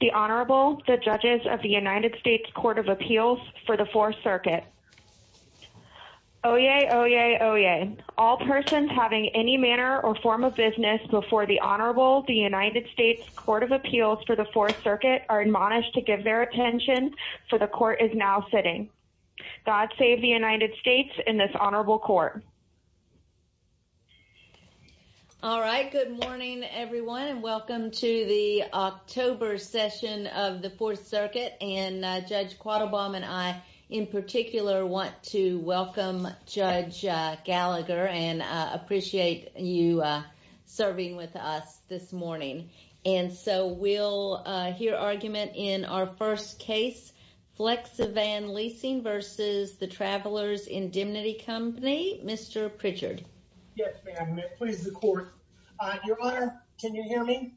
The Honorable, the Judges of the United States Court of Appeals for the Fourth Circuit. Oyez, oyez, oyez. All persons having any manner or form of business before the Honorable, the United States Court of Appeals for the Fourth Circuit are admonished to give their attention, for the Court is now sitting. God save the United States and this Honorable Court. All right, good morning, everyone, and welcome to the October session of the Fourth Circuit. And Judge Quattlebaum and I, in particular, want to welcome Judge Gallagher and appreciate you serving with us this morning. And so we'll hear argument in our first case, Flexi-Van Leasing v. The Travelers Indemnity Company. Mr. Pritchard. Yes, ma'am. Please, the Court. Your Honor, can you hear me?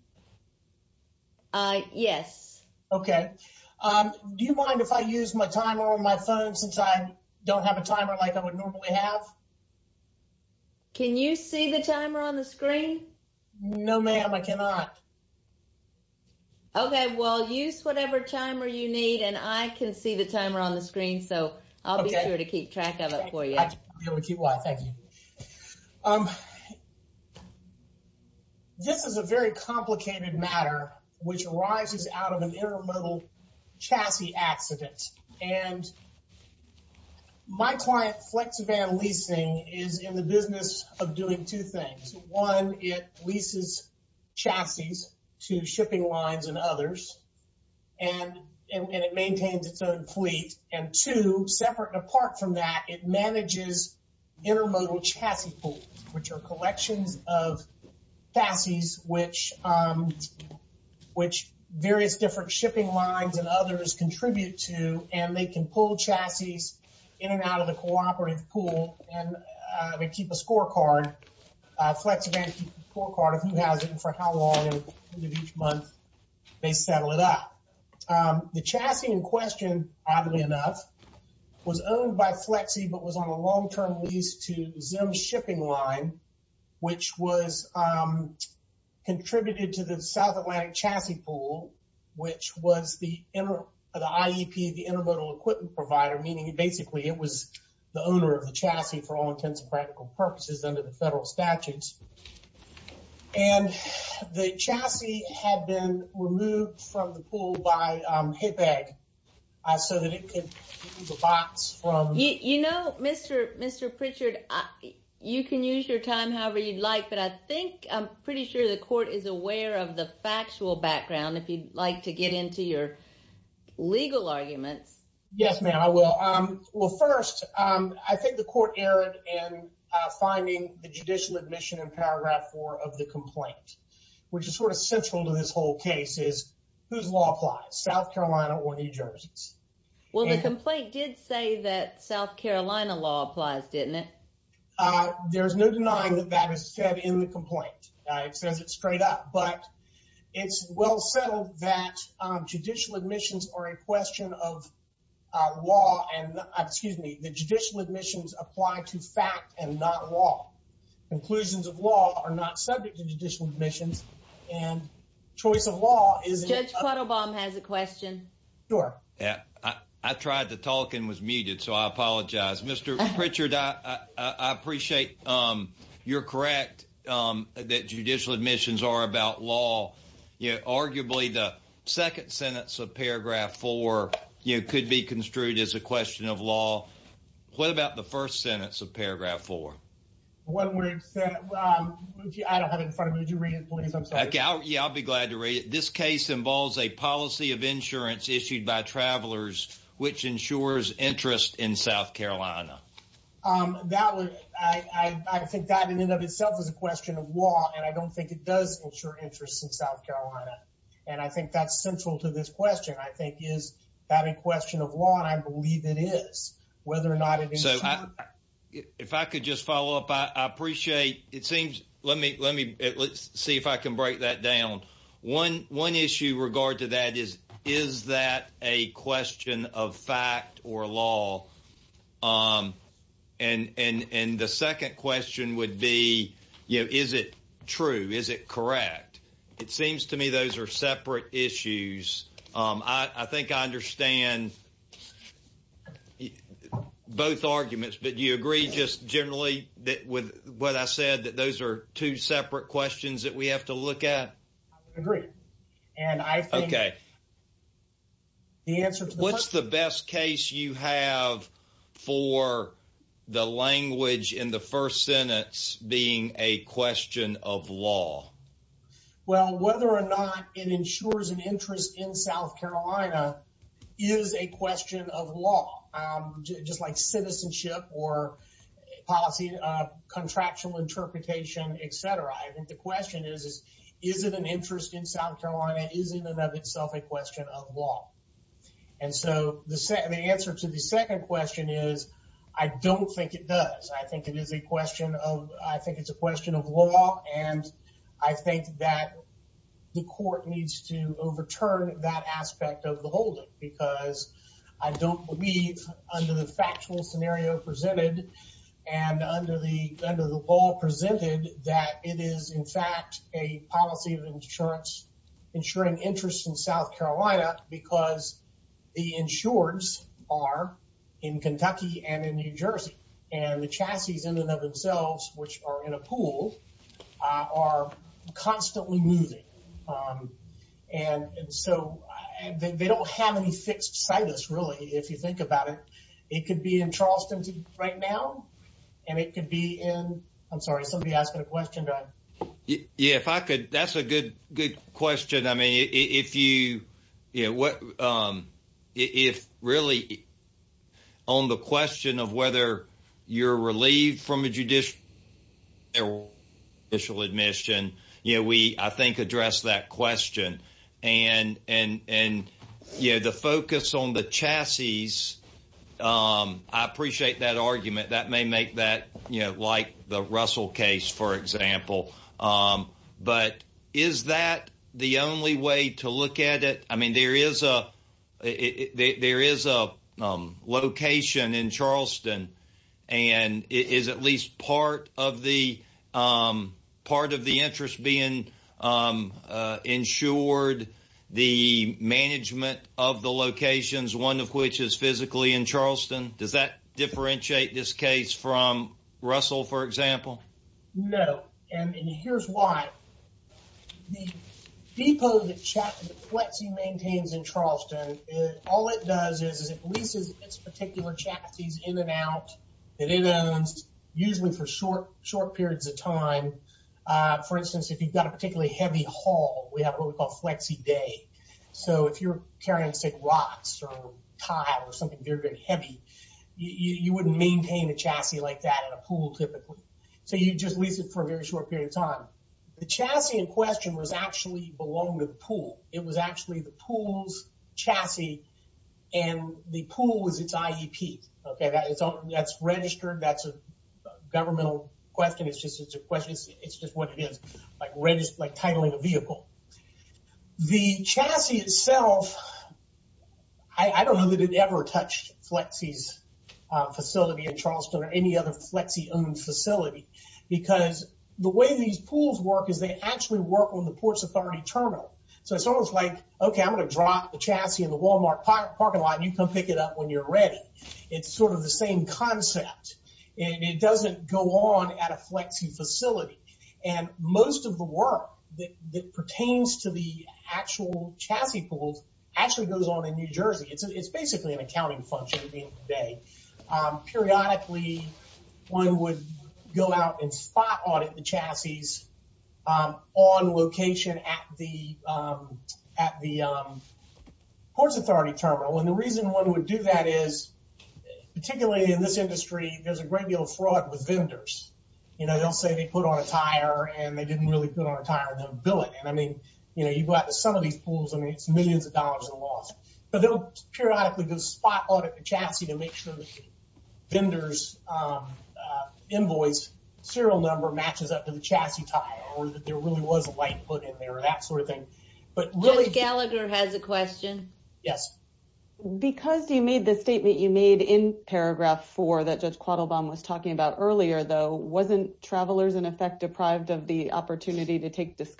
Yes. Okay. Do you mind if I use my timer on my phone since I don't have a timer like I would normally have? Can you see the timer on the screen? No, ma'am. I cannot. Okay. Well, use whatever timer you need, and I can see the timer on the screen, so I'll be sure to keep track of it for you. I'll be able to keep track. Thank you. This is a very complicated matter, which arises out of an intermodal chassis accident. And my client, Flexi-Van Leasing, is in the business of doing two things. One, it leases chassis to shipping lines and others, and it maintains its own fleet. And two, separate and apart from that, it manages intermodal chassis pools, which are collections of chassis which various different shipping lines and others contribute to, and they can pull chassis in and out of the cooperative pool, and they keep a scorecard, Flexi-Van keeps a scorecard of who has it and for how long, and at the end of each month, they settle it up. The chassis in question, oddly enough, was owned by Flexi but was on a long-term lease to Zim Shipping Line, which was contributed to the South Atlantic Chassis Pool, which was the IEP, the Intermodal Equipment Provider, meaning basically it was the owner of the chassis for all intents and practical purposes under the federal statutes. And the chassis had been removed from the pool by HIPAA so that it could use a box from the- You know, Mr. Pritchard, you can use your time however you'd like, but I think, I'm sure everybody's aware of the factual background, if you'd like to get into your legal arguments. Yes, ma'am. I will. Well, first, I think the court erred in finding the judicial admission in paragraph four of the complaint, which is sort of central to this whole case, is whose law applies, South Carolina or New Jersey's? Well, the complaint did say that South Carolina law applies, didn't it? There's no denying that that is said in the complaint. It says it straight up, but it's well settled that judicial admissions are a question of law, and, excuse me, the judicial admissions apply to fact and not law. Conclusions of law are not subject to judicial admissions, and choice of law is- Judge Quattlebaum has a question. Sure. Yeah. I tried to talk and was muted, so I apologize. Mr. Pritchard, I appreciate you're correct that judicial admissions are about law. Arguably, the second sentence of paragraph four could be construed as a question of law. What about the first sentence of paragraph four? One word, I don't have it in front of me. Would you read it, please? I'm sorry. Yeah, I'll be glad to read it. This case involves a policy of insurance issued by travelers, which ensures interest in South Carolina. I think that, in and of itself, is a question of law, and I don't think it does ensure interest in South Carolina. And I think that's central to this question, I think, is that a question of law? And I believe it is, whether or not it is- If I could just follow up, I appreciate... Let's see if I can break that down. One issue with regard to that is, is that a question of fact or law? And the second question would be, is it true, is it correct? It seems to me those are separate issues. I think I understand both arguments, but do you agree just generally with what I said, that those are two separate questions that we have to look at? I would agree. And I think- Okay. The answer to the first- What's the best case you have for the language in the first sentence being a question of law? Well, whether or not it ensures an interest in South Carolina is a question of law. Just like citizenship or policy, contractual interpretation, et cetera, I think the question is, is it an interest in South Carolina, is it in and of itself a question of law? And so the answer to the second question is, I don't think it does. I think it is a question of... I think it's a question of law, and I think that the court needs to overturn that aspect of the holding, because I don't believe under the factual scenario presented and under the law presented, that it is in fact a policy of insurance ensuring interest in South Carolina, because the insureds are in Kentucky and in New Jersey, and the And so they don't have any fixed situs, really, if you think about it. It could be in Charleston right now, and it could be in... I'm sorry, somebody asked a question. Do I- Yeah, if I could... That's a good question. I mean, if really on the question of whether you're relieved from a judicial admission, we, I think, addressed that question, and the focus on the chassis, I appreciate that argument. That may make that like the Russell case, for example, but is that the only way to look at it? I mean, there is a location in Charleston, and is at least part of the interest being insured the management of the locations, one of which is physically in Charleston? Does that differentiate this case from Russell, for example? No. No, and here's why. The depot that FLEXI maintains in Charleston, all it does is it leases its particular chassis in and out, and in and out, usually for short periods of time. For instance, if you've got a particularly heavy haul, we have what we call FLEXI day. So if you're carrying, say, rocks, or tile, or something very, very heavy, you wouldn't maintain a chassis like that in a pool, typically. So you just lease it for a very short period of time. The chassis in question was actually belonged to the pool. It was actually the pool's chassis, and the pool was its IEP. That's registered, that's a governmental question, it's just what it is, like titling a vehicle. The chassis itself, I don't know that it ever touched FLEXI's facility in Charleston, or any other FLEXI-owned facility, because the way these pools work is they actually work on the Ports Authority terminal. So it's almost like, okay, I'm going to drop the chassis in the Walmart parking lot, and you come pick it up when you're ready. It's sort of the same concept, and it doesn't go on at a FLEXI facility. And most of the work that pertains to the actual chassis pools actually goes on in New Jersey. It's basically an accounting function at the end of the day. Periodically, one would go out and spot audit the chassis on location at the Ports Authority terminal. And the reason one would do that is, particularly in this industry, there's a great deal of fraud with vendors. They'll say they put on a tire, and they didn't really put on a tire, and they'll bill it. And I mean, you go out to some of these pools, I mean, it's millions of dollars in loss. But they'll periodically go spot audit the chassis to make sure that the vendor's invoice serial number matches up to the chassis tire, or that there really was a light put in there, or that sort of thing. But really- Ms. Gallagher has a question. Yes. Because you made the statement you made in paragraph four that Judge Quattlebaum was talking about earlier, though, wasn't Travelers in Effect deprived of the opportunity to take a risk?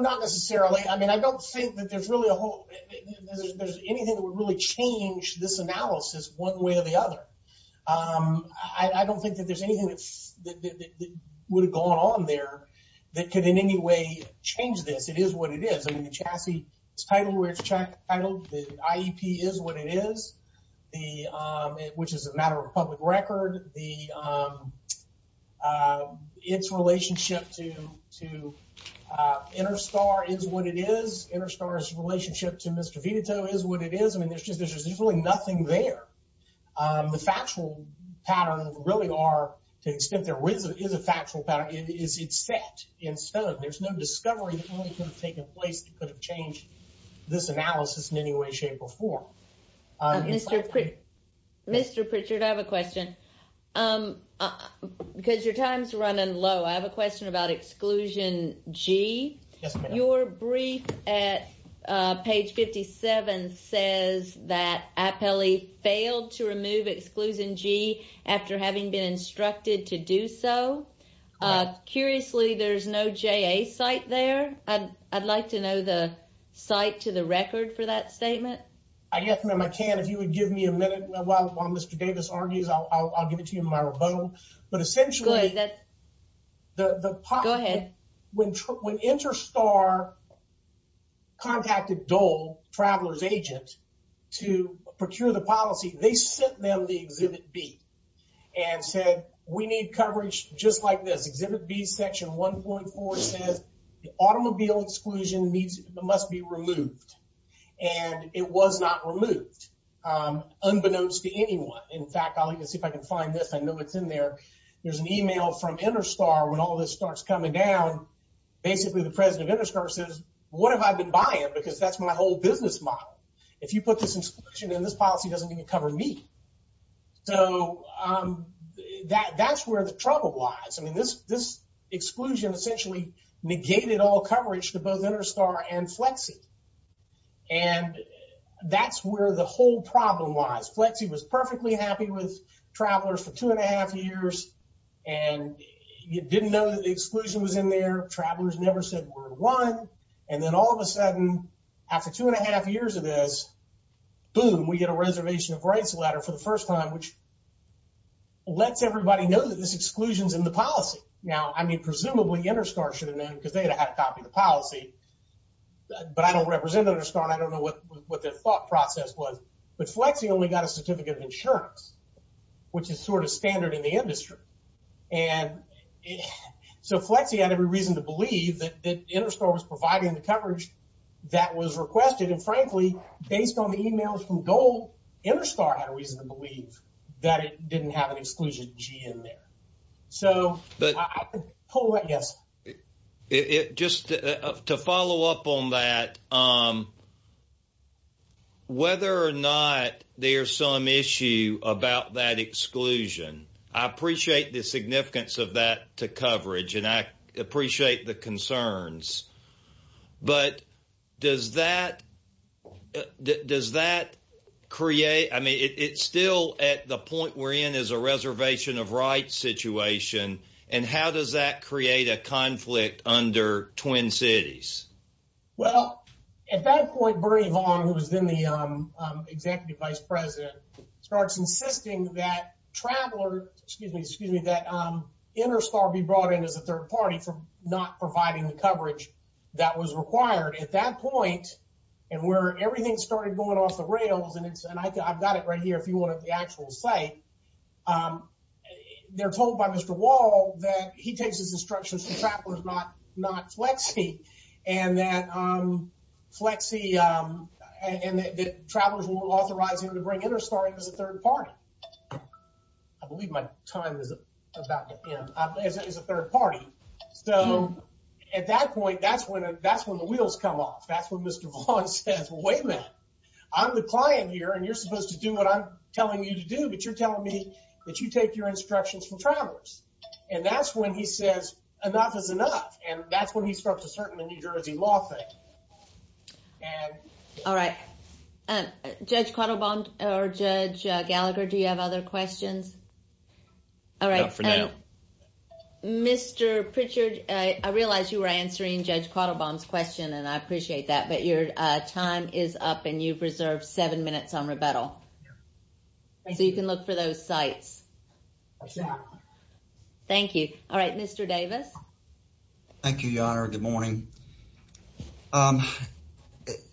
Not necessarily. I mean, I don't think that there's anything that would really change this analysis one way or the other. I don't think that there's anything that would have gone on there that could in any way change this. It is what it is. I mean, the chassis is titled where it's titled. The IEP is what it is, which is a matter of public record. It's relationship to Interstar is what it is. Interstar's relationship to Mr. Vitito is what it is. I mean, there's just really nothing there. The factual patterns really are, to the extent there is a factual pattern, it's set in stone. There's no discovery that really could have taken place that could have changed this analysis in any way, shape, or form. Mr. Pritchard, I have a question. Because your time's running low, I have a question about exclusion G. Yes, ma'am. Your brief at page 57 says that Appellee failed to remove exclusion G after having been instructed to do so. Curiously, there's no JA cite there. I guess, ma'am, I can't. If you would give me a minute while Mr. Davis argues, I'll give it to you in my rebuttal. But essentially- Good. Go ahead. When Interstar contacted Dole, Traveler's agent, to procure the policy, they sent them the Exhibit B and said, we need coverage just like this. Exhibit B, section 1.4 says, the automobile exclusion must be removed. And it was not removed, unbeknownst to anyone. In fact, I'll even see if I can find this. I know it's in there. There's an email from Interstar when all this starts coming down. Basically, the president of Interstar says, what have I been buying? Because that's my whole business model. If you put this in section, then this policy doesn't even cover me. So that's where the trouble lies. This exclusion essentially negated all coverage to both Interstar and Flexi. And that's where the whole problem lies. Flexi was perfectly happy with Traveler's for two and a half years. And you didn't know that the exclusion was in there. Traveler's never said word one. And then all of a sudden, after two and a half years of this, boom, we get a reservation of rights letter for the first time, which lets everybody know that this exclusion's in the policy. Now, I mean, presumably Interstar should have known, because they'd have had a copy of the policy. But I don't represent Interstar, and I don't know what their thought process was. But Flexi only got a certificate of insurance, which is sort of standard in the industry. And so Flexi had every reason to believe that Interstar was providing the coverage that was requested. And frankly, based on the emails from Gold, Interstar had a reason to believe that it didn't have an exclusion G in there. So, yes. Just to follow up on that, whether or not there's some issue about that exclusion, I appreciate the significance of that to coverage, and I appreciate the concerns. But does that create, I mean, it's still at the point we're in as a reservation of rights situation, and how does that create a conflict under Twin Cities? Well, at that point, Bernie Vaughn, who was then the executive vice president, starts insisting that Interstar be brought in as a third party for not providing the coverage that was required. At that point, and where everything started going off the rails, and I've got it right here if you want the actual site, they're told by Mr. Wall that he takes his instructions from travelers, not Flexi, and that travelers won't authorize him to bring Interstar in as a third party. I believe my time is about to end, as a third party. So at that point, that's when the wheels come off. That's when Mr. Vaughn says, well, wait a minute, I'm the client here and you're supposed to do what I'm telling you to do, but you're telling me that you take your instructions from travelers. And that's when he says, enough is enough, and that's when he starts asserting the New Jersey law thing. All right. Judge Quattlebaum, or Judge Gallagher, do you have other questions? Not for now. All right. Mr. Pritchard, I realize you were answering Judge Quattlebaum's question, and I appreciate that. Thank you. Thank you. Thank you. Thank you. Thank you. Thank you. Thank you. Thank you. Thank you. Thank you. Any other questions? No. So you can look for those sites. That's it. Thank you. All right, Mr. Davis? Thank you, Your Honor. Good morning.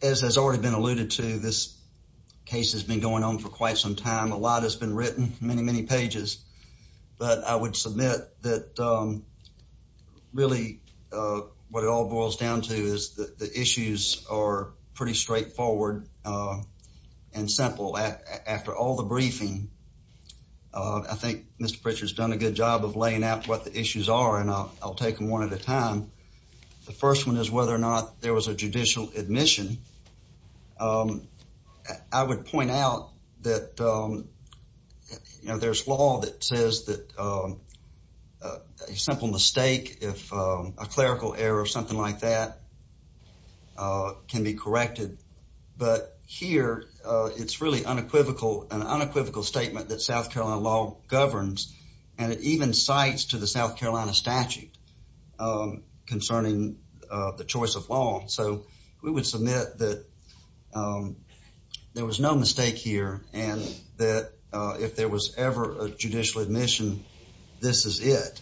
As has already been alluded to, this case has been going on for quite some time. A lot has been written, many, many pages. But I would submit that really what it all boils down to is that the issues are pretty straightforward and simple. After all the briefing, I think Mr. Pritchard has done a good job of laying out what the issues are, and I'll take them one at a time. The first one is whether or not there was a judicial admission. I would point out that there's law that says that a simple mistake, if a clerical error or something like that, can be corrected. But here, it's really an unequivocal statement that South Carolina law governs, and it even cites to the South Carolina statute concerning the choice of law. So we would submit that there was no mistake here, and that if there was ever a judicial admission, this is it.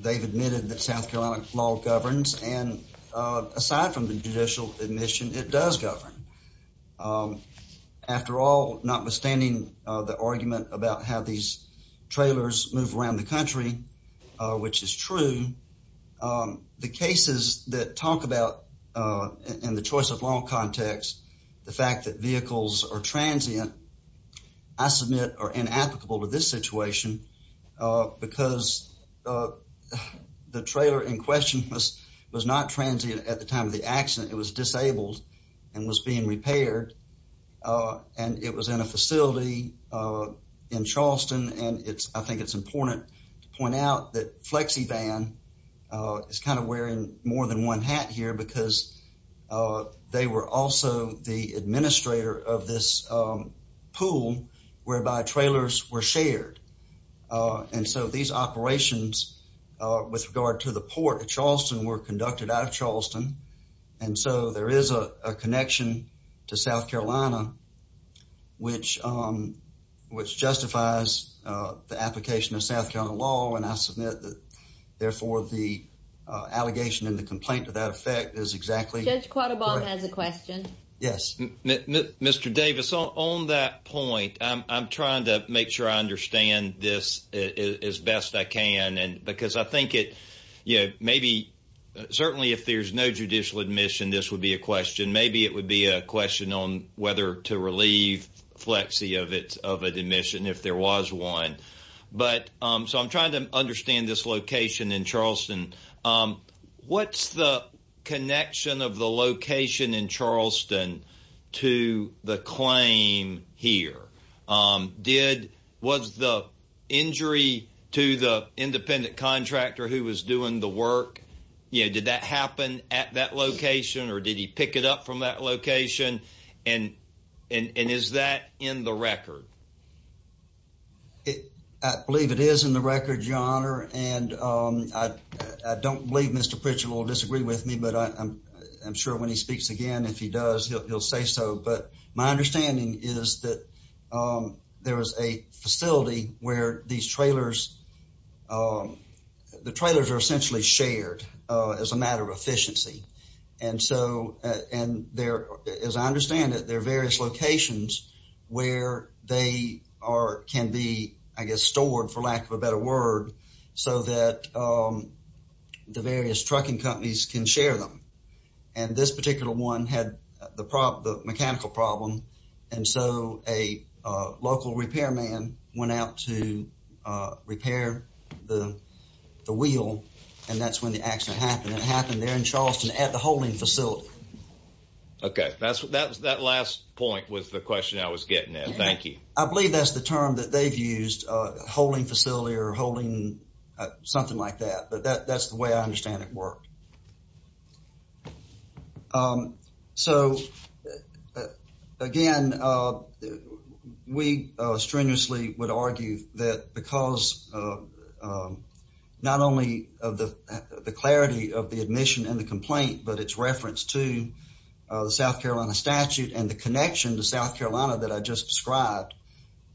They've admitted that South Carolina law governs, and aside from the judicial admission, it does govern. After all, notwithstanding the argument about how these trailers move around the country, which is true, the cases that talk about, in the choice of law context, the fact that are inapplicable to this situation, because the trailer in question was not transient at the time of the accident. It was disabled and was being repaired, and it was in a facility in Charleston, and I think it's important to point out that Flexivan is kind of wearing more than one hat here because they were also the administrator of this pool whereby trailers were shared. And so these operations with regard to the port of Charleston were conducted out of Charleston, and so there is a connection to South Carolina which justifies the application of South Carolina law. And I submit that, therefore, the allegation and the complaint to that effect is exactly correct. Judge Quattlebaum has a question. Yes. Mr. Davis, on that point, I'm trying to make sure I understand this as best I can, because I think it, you know, maybe, certainly if there's no judicial admission, this would be a question. Maybe it would be a question on whether to relieve Flexi of an admission if there was one. But so I'm trying to understand this location in Charleston. What's the connection of the location in Charleston to the claim here? Was the injury to the independent contractor who was doing the work, you know, did that happen at that location, or did he pick it up from that location, and is that in the record? I believe it is in the record, Your Honor, and I don't believe Mr. Pritchett will disagree with me, but I'm sure when he speaks again, if he does, he'll say so. But my understanding is that there is a facility where these trailers, the trailers are essentially shared as a matter of efficiency. And so, and there, as I understand it, there are various locations where they are, can be, I guess, stored, for lack of a better word, so that the various trucking companies can share them. And this particular one had the mechanical problem, and so a local repairman went out to repair the wheel, and that's when the accident happened. It happened there in Charleston at the holding facility. Okay, that's, that last point was the question I was getting at. Thank you. I believe that's the term that they've used, holding facility or holding something like that, but that's the way I understand it worked. So, again, we strenuously would argue that because not only of the clarity of the admission and the complaint, but its reference to the South Carolina statute and the connection to South Carolina that I just described,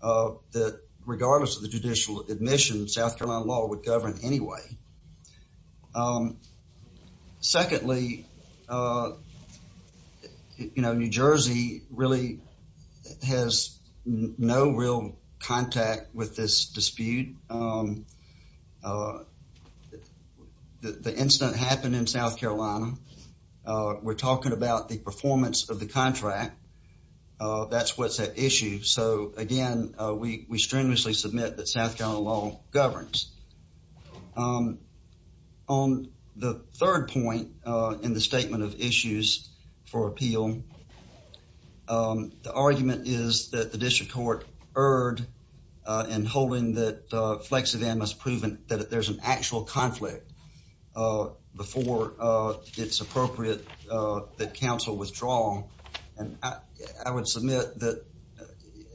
that regardless of the judicial admission, South Secondly, you know, New Jersey really has no real contact with this dispute. The incident happened in South Carolina. We're talking about the performance of the contract. That's what's at issue. So, again, we strenuously submit that South Carolina law governs. On the third point in the statement of issues for appeal, the argument is that the district court erred in holding that Flexivan must prove that there's an actual conflict before it's appropriate that counsel withdraw. And I would submit that,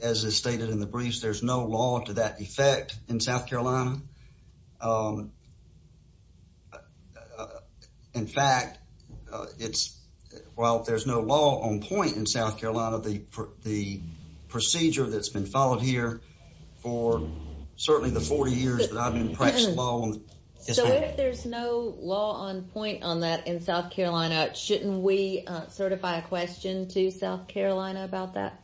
as is stated in the briefs, there's no law to that effect in South Carolina. In fact, it's, while there's no law on point in South Carolina, the procedure that's been followed here for certainly the 40 years that I've been practicing law on the district. If there's no law on point on that in South Carolina, shouldn't we certify a question to South Carolina about that?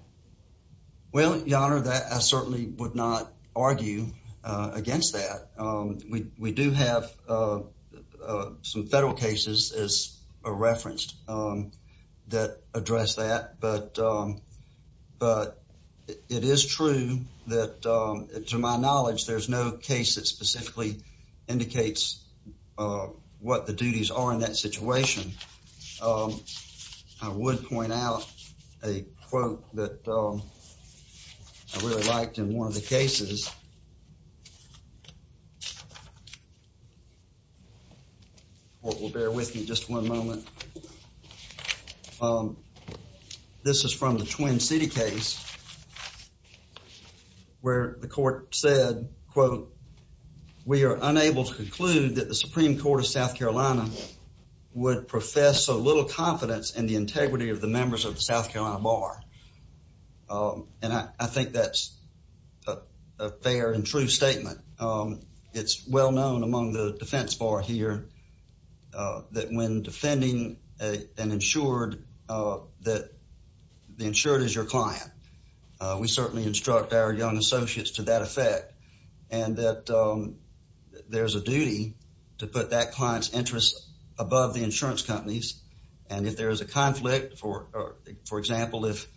Well, your honor, that I certainly would not argue against that. We do have some federal cases as referenced that address that, but it is true that, to my knowledge, there's no case that specifically indicates what the duties are in that situation. I would point out a quote that I really liked in one of the cases. The court will bear with me just one moment. This is from the Twin City case where the court said, quote, we are unable to conclude that the Supreme Court of South Carolina would profess so little confidence in the integrity of the members of the South Carolina bar. And I think that's a fair and true statement. It's well known among the defense bar here that when defending an insured, that the insured is your client. We certainly instruct our young associates to that effect and that there's a duty to put that client's interests above the insurance company's. And if there is a conflict, for example, if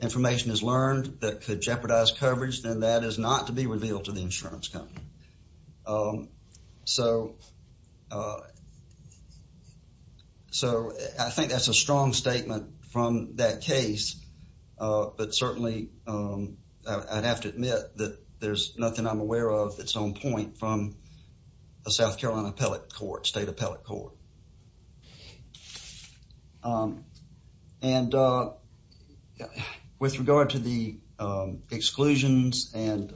information is learned that could jeopardize coverage, then that is not to be revealed to the insurance company. So, I think that's a strong statement from that case. But certainly, I'd have to admit that there's nothing I'm aware of that's on point from the South Carolina State Appellate Court. And with regard to the exclusions and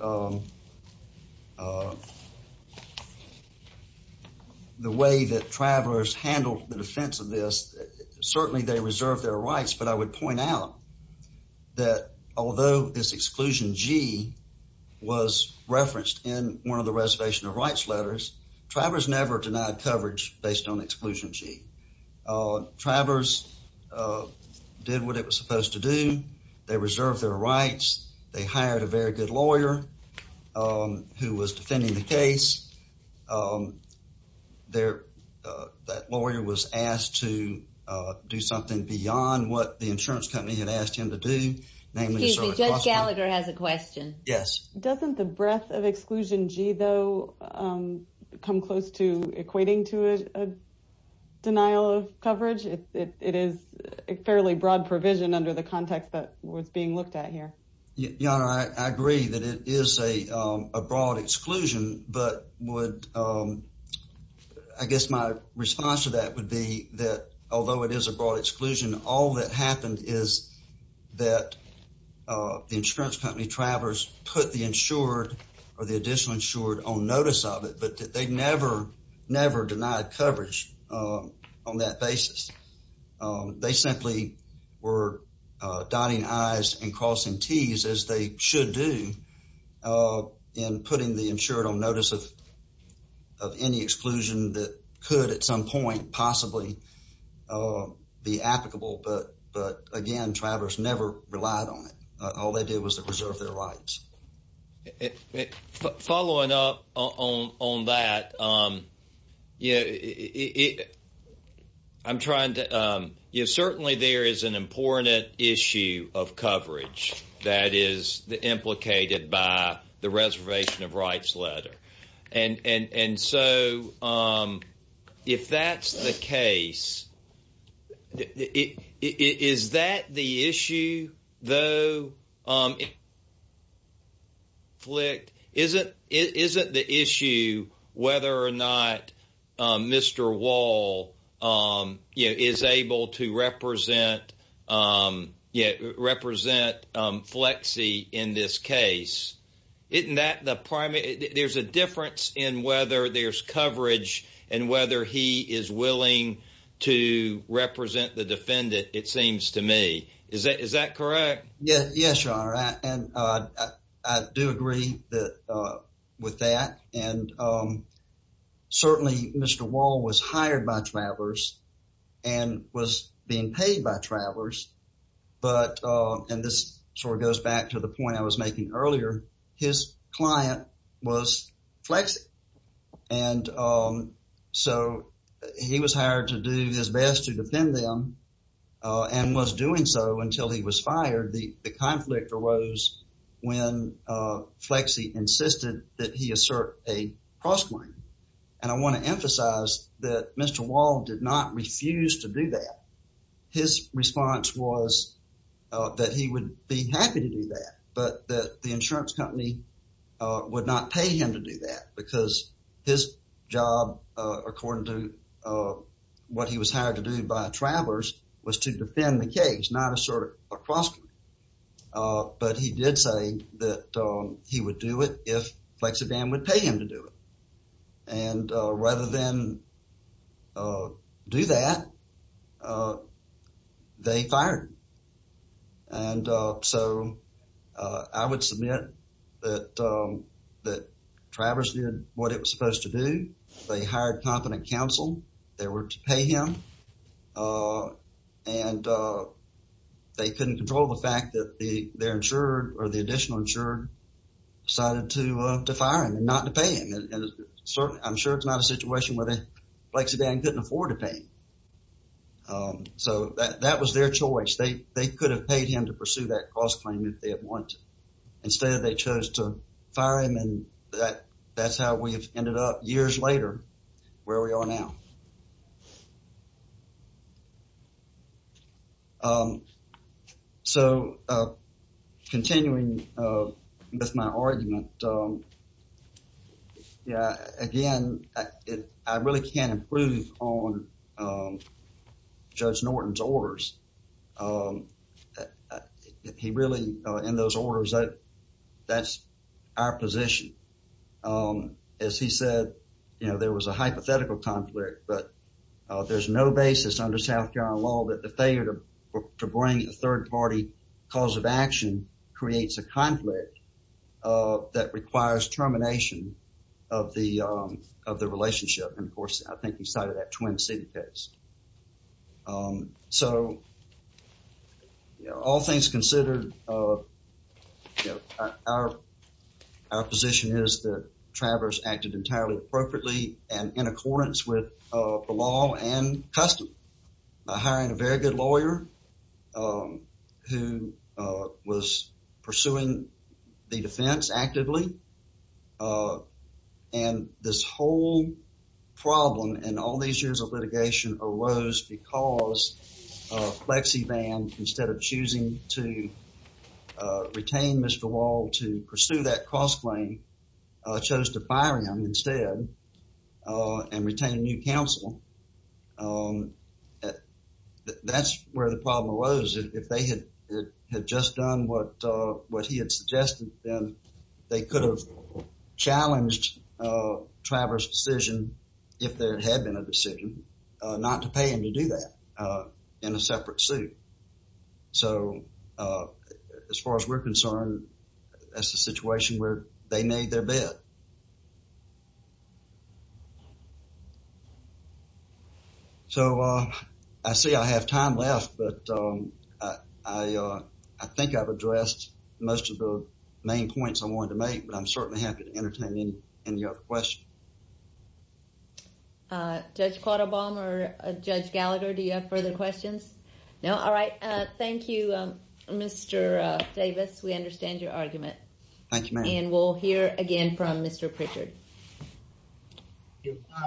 the way that travelers handle the defense of this, certainly they reserve their rights. But I would point out that although this exclusion G was referenced in one of the exclusions, travelers did what it was supposed to do. They reserved their rights. They hired a very good lawyer who was defending the case. That lawyer was asked to do something beyond what the insurance company had asked him to do. Excuse me, Judge Gallagher has a question. Yes. Doesn't the breadth of exclusion G, though, come close to equating to a denial of coverage? It is a fairly broad provision under the context that was being looked at here. Your Honor, I agree that it is a broad exclusion. But I guess my response to that would be that although it is a broad exclusion, all that happened is that the insurance company travelers put the insured or the additional insured on notice of it, but they never denied coverage on that basis. They simply were dotting I's and crossing T's, as they should do, in putting the insured on notice of any exclusion that could at some point possibly be applicable. But again, travelers never relied on it. All they did was to reserve their rights. Following up on that, I'm trying to... Certainly there is an important issue of coverage that is implicated by the reservation of rights and so if that's the case, is that the issue, though? Isn't the issue whether or not Mr. Wall is able to represent FLEXI in this case? Isn't that the primary... There's a difference in whether there's coverage and whether he is willing to represent the defendant, it seems to me. Is that correct? Yes, Your Honor, and I do agree with that. And certainly Mr. Wall was hired by travelers and was being paid by travelers. But, and this sort of goes back to the point I was making earlier, his client was FLEXI. And so he was hired to do his best to defend them and was doing so until he was fired. The conflict arose when FLEXI insisted that he assert a cross claim. And I want to emphasize that Mr. Wall did not refuse to do that. His response was that he would be happy to do that, but that the insurance company would not pay him to do that because his job, according to what he was hired to do by travelers, was to defend the case, not assert a cross claim. But he did say that he would do it if FLEXI ban would pay him to do it. And rather than do that, they fired him. And so I would submit that travelers did what it was supposed to do. They hired competent counsel. They were to pay him. And they couldn't control the fact that their insurer or the additional insurer decided to fire him and not to pay him. I'm sure it's not a situation where FLEXI ban couldn't afford to pay him. So that was their choice. They could have paid him to pursue that cross claim if they had wanted. Instead, they chose to fire him. And that's how we've ended up years later where we are now. Um, so, uh, continuing with my argument. Yeah, again, I really can't improve on Judge Norton's orders. He really, in those orders, that's our position. As he said, you know, there was a hypothetical conflict, but there's no basis under South Carolina law that the failure to bring a third party cause of action creates a conflict that requires termination of the relationship. And of course, I think he cited that Twin City case. So, you know, all things considered, our position is that travelers acted entirely appropriately and in accordance with the law and custom. Hiring a very good lawyer who was pursuing the defense actively. And this whole problem in all these years of litigation arose because FLEXI ban, instead of choosing to retain Mr. Wall to pursue that cross claim, chose to fire him instead. And retain a new counsel. That's where the problem arose. If they had just done what he had suggested, then they could have challenged Travers' decision, if there had been a decision, not to pay him to do that in a separate suit. So, as far as we're concerned, that's a situation where they made their bet. So, I see I have time left, but I think I've addressed most of the main points I wanted to make. But I'm certainly happy to entertain any other questions. Judge Quattlebaum or Judge Gallagher, do you have further questions? No? All right. Thank you, Mr. Davis. We understand your argument. Thank you, ma'am. And we'll hear again from Mr. Pritchard.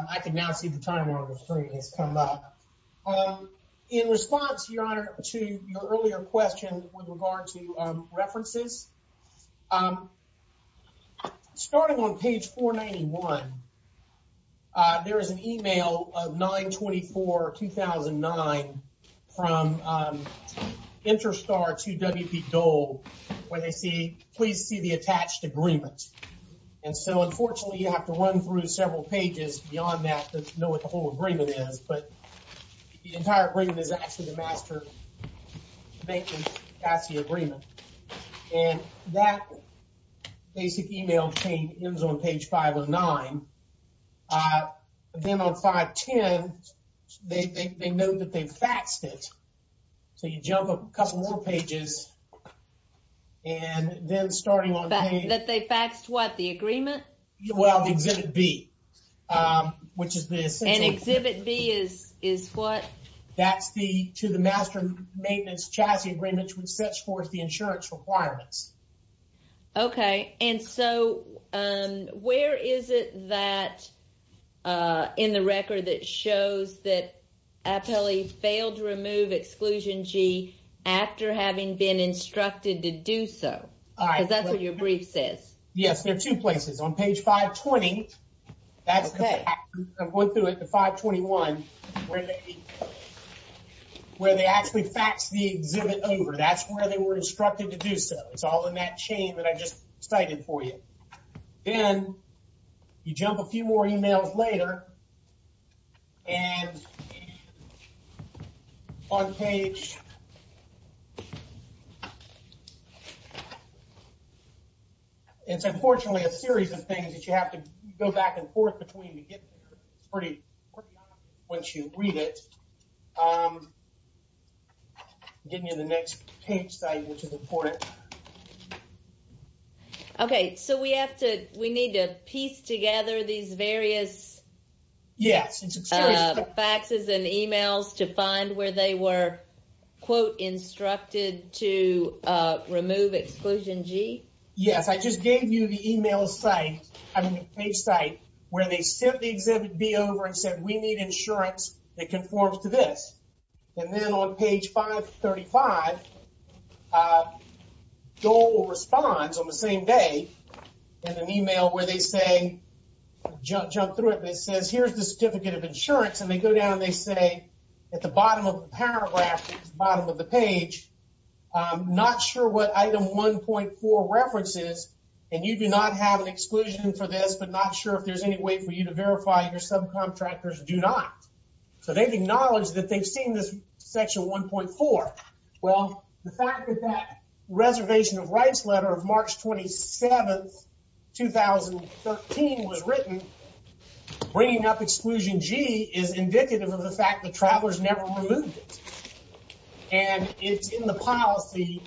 I can now see the timer on the screen has come up. In response, Your Honor, to your earlier question with regard to references, starting on page 491, there is an email of 9-24-2009 from Interstar to W.P. Dole, where they say, please see the attached agreement. And so, unfortunately, you have to run through several pages beyond that to know what the whole agreement is. But the entire agreement is actually the master bank and CASSI agreement. And that basic email chain ends on page 509. Then on 510, they note that they faxed it. So, you jump a couple more pages. And then starting on page- That they faxed what, the agreement? Well, exhibit B, which is the- And exhibit B is what? That's the, to the master maintenance CASSI agreement, which sets forth the insurance requirements. Okay. And so, where is it that, in the record, that shows that Apelli failed to remove exclusion G after having been instructed to do so? Because that's what your brief says. Yes, there are two places. On page 520, that's the fax, I'm going through it, to 521, where they actually faxed the exhibit over. That's where they were instructed to do so. It's all in that chain that I just cited for you. Then, you jump a few more emails later. And, on page- It's unfortunately a series of things that you have to go back and forth between to get to pretty quickly once you read it. Get me to the next page, which is important. Okay. So, we have to, we need to piece together these various faxes and emails to find where they were quote, instructed to remove exclusion G? Yes. I just gave you the email site, I mean, the page site, where they sent the exhibit B over and said, we need insurance that conforms to this. And then, on page 535, Dole responds on the same day in an email where they say, jump through it, and it says, here's the certificate of insurance. And, they go down and they say, at the bottom of the paragraph, at the bottom of the page, I'm not sure what item 1.4 references. And, you do not have an exclusion for this, but not sure if there's any way for you to verify your subcontractors do not. So, they've acknowledged that they've seen this section 1.4. Well, the fact that that reservation of rights letter of March 27, 2013 was written, bringing up exclusion G is indicative of the fact that Travelers never removed it. And, it's in the policy,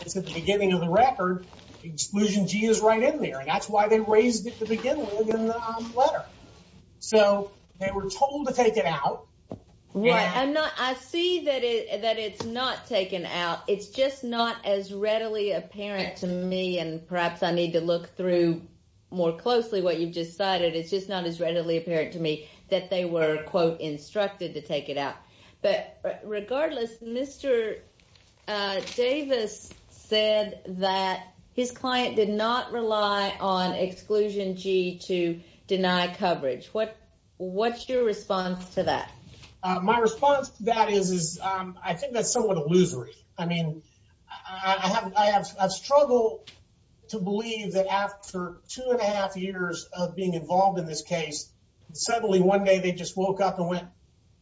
it's at the beginning of the record, exclusion G is right in there. And, that's why they raised it at the beginning of the letter. So, they were told to take it out. Right. I'm not, I see that it's not taken out. It's just not as readily apparent to me, and perhaps I need to look through more closely what you've just cited. It's just not as readily apparent to me that they were, quote, instructed to take it out. But, regardless, Mr. Davis said that his client did not rely on exclusion G to deny coverage. What's your response to that? My response to that is, I think that's somewhat illusory. I mean, I have struggled to believe that after two and a half years of being involved in this case, suddenly one day they just woke up and went,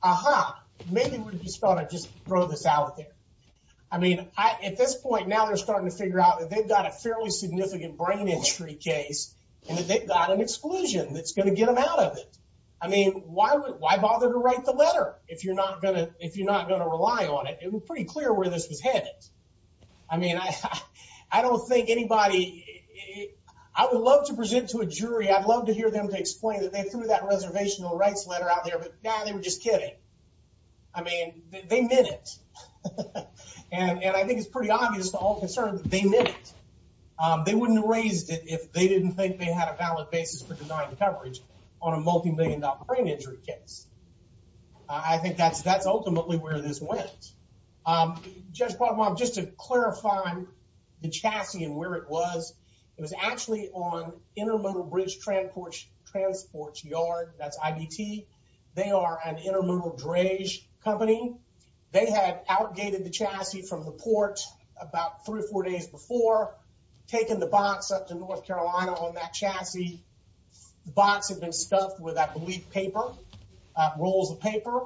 aha, maybe we just thought I'd just throw this out there. I mean, at this point, now they're starting to figure out that they've got a fairly significant brain injury case, and that they've got an exclusion that's going to get them out of it. I mean, why bother to write the letter if you're not going to rely on it? It was pretty clear where this was headed. I mean, I don't think anybody, I would love to present to a jury, I'd love to hear them to explain that they threw that reservational rights letter out there, but, nah, they were just kidding. I mean, they meant it. And, I think it's pretty obvious to all concerned that they meant it. They wouldn't have raised it if they didn't think they had a valid basis for denying coverage on a multi-million dollar brain injury case. I think that's ultimately where this went. Judge Quagmire, just to clarify the chassis and where it was, it was actually on Intermodal Bridge Transport Yard, that's IDT. They are an intermodal drage company. They had outgated the chassis from the port about three or four days before. Taking the box up to North Carolina on that chassis, the box had been stuffed with, I believe, paper, rolls of paper.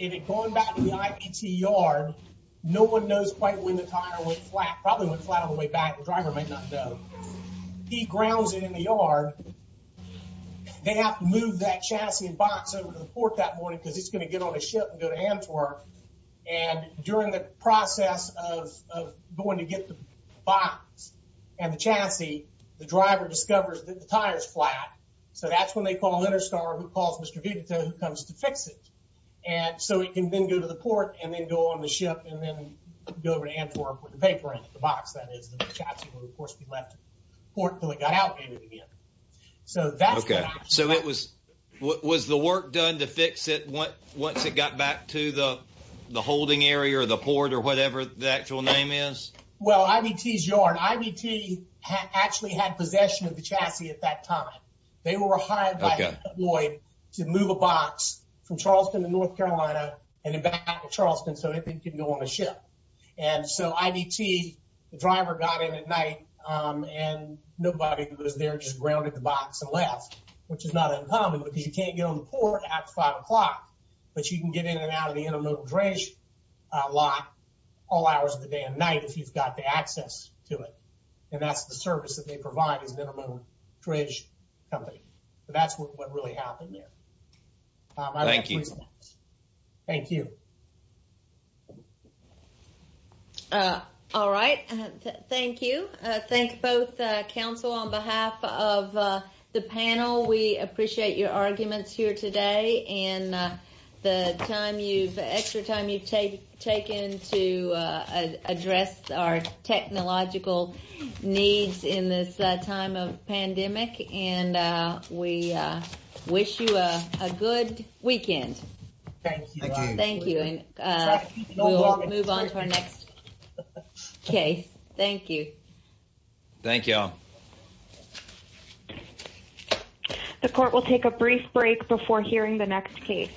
And it had gone back to the IDT yard. No one knows quite when the tire went flat. Probably went flat on the way back. The driver might not know. He grounds it in the yard. They have to move that chassis and box over to the port that morning because he's going to get on a ship and go to Antwerp. And during the process of going to get the box and the chassis, the driver discovers that the tire's flat. So that's when they call Interstar, who calls Mr. Vigato, who comes to fix it. And so he can then go to the port and then go on the ship and then go over to Antwerp with the paper in the box. That is, the chassis will, of course, be left at the port until it got outgated again. So that's what happened. So it was, was the work done to fix it once it got back to the holding area or the port or whatever the actual name is? Well, IDT's yard. IDT actually had possession of the chassis at that time. They were hired by Lloyd to move a box from Charleston to North Carolina and then back to Charleston so that they could go on a ship. And so IDT, the driver got in at night and nobody was there. Just grounded the box and left, which is not uncommon because you can't get on the port at five o'clock. But you can get in and out of the intermodal dredge lot all hours of the day and night if you've got the access to it. And that's the service that they provide as an intermodal dredge company. That's what really happened there. Thank you. Thank you. All right. Thank you. Thank both council on behalf of the panel. We appreciate your arguments here today and the time you've, the extra time you've taken to address our technological needs in this time of pandemic. And we wish you a good weekend. Thank you. Thank you and we'll move on to our next case. Thank you. Thank you. The court will take a brief break before hearing the next case.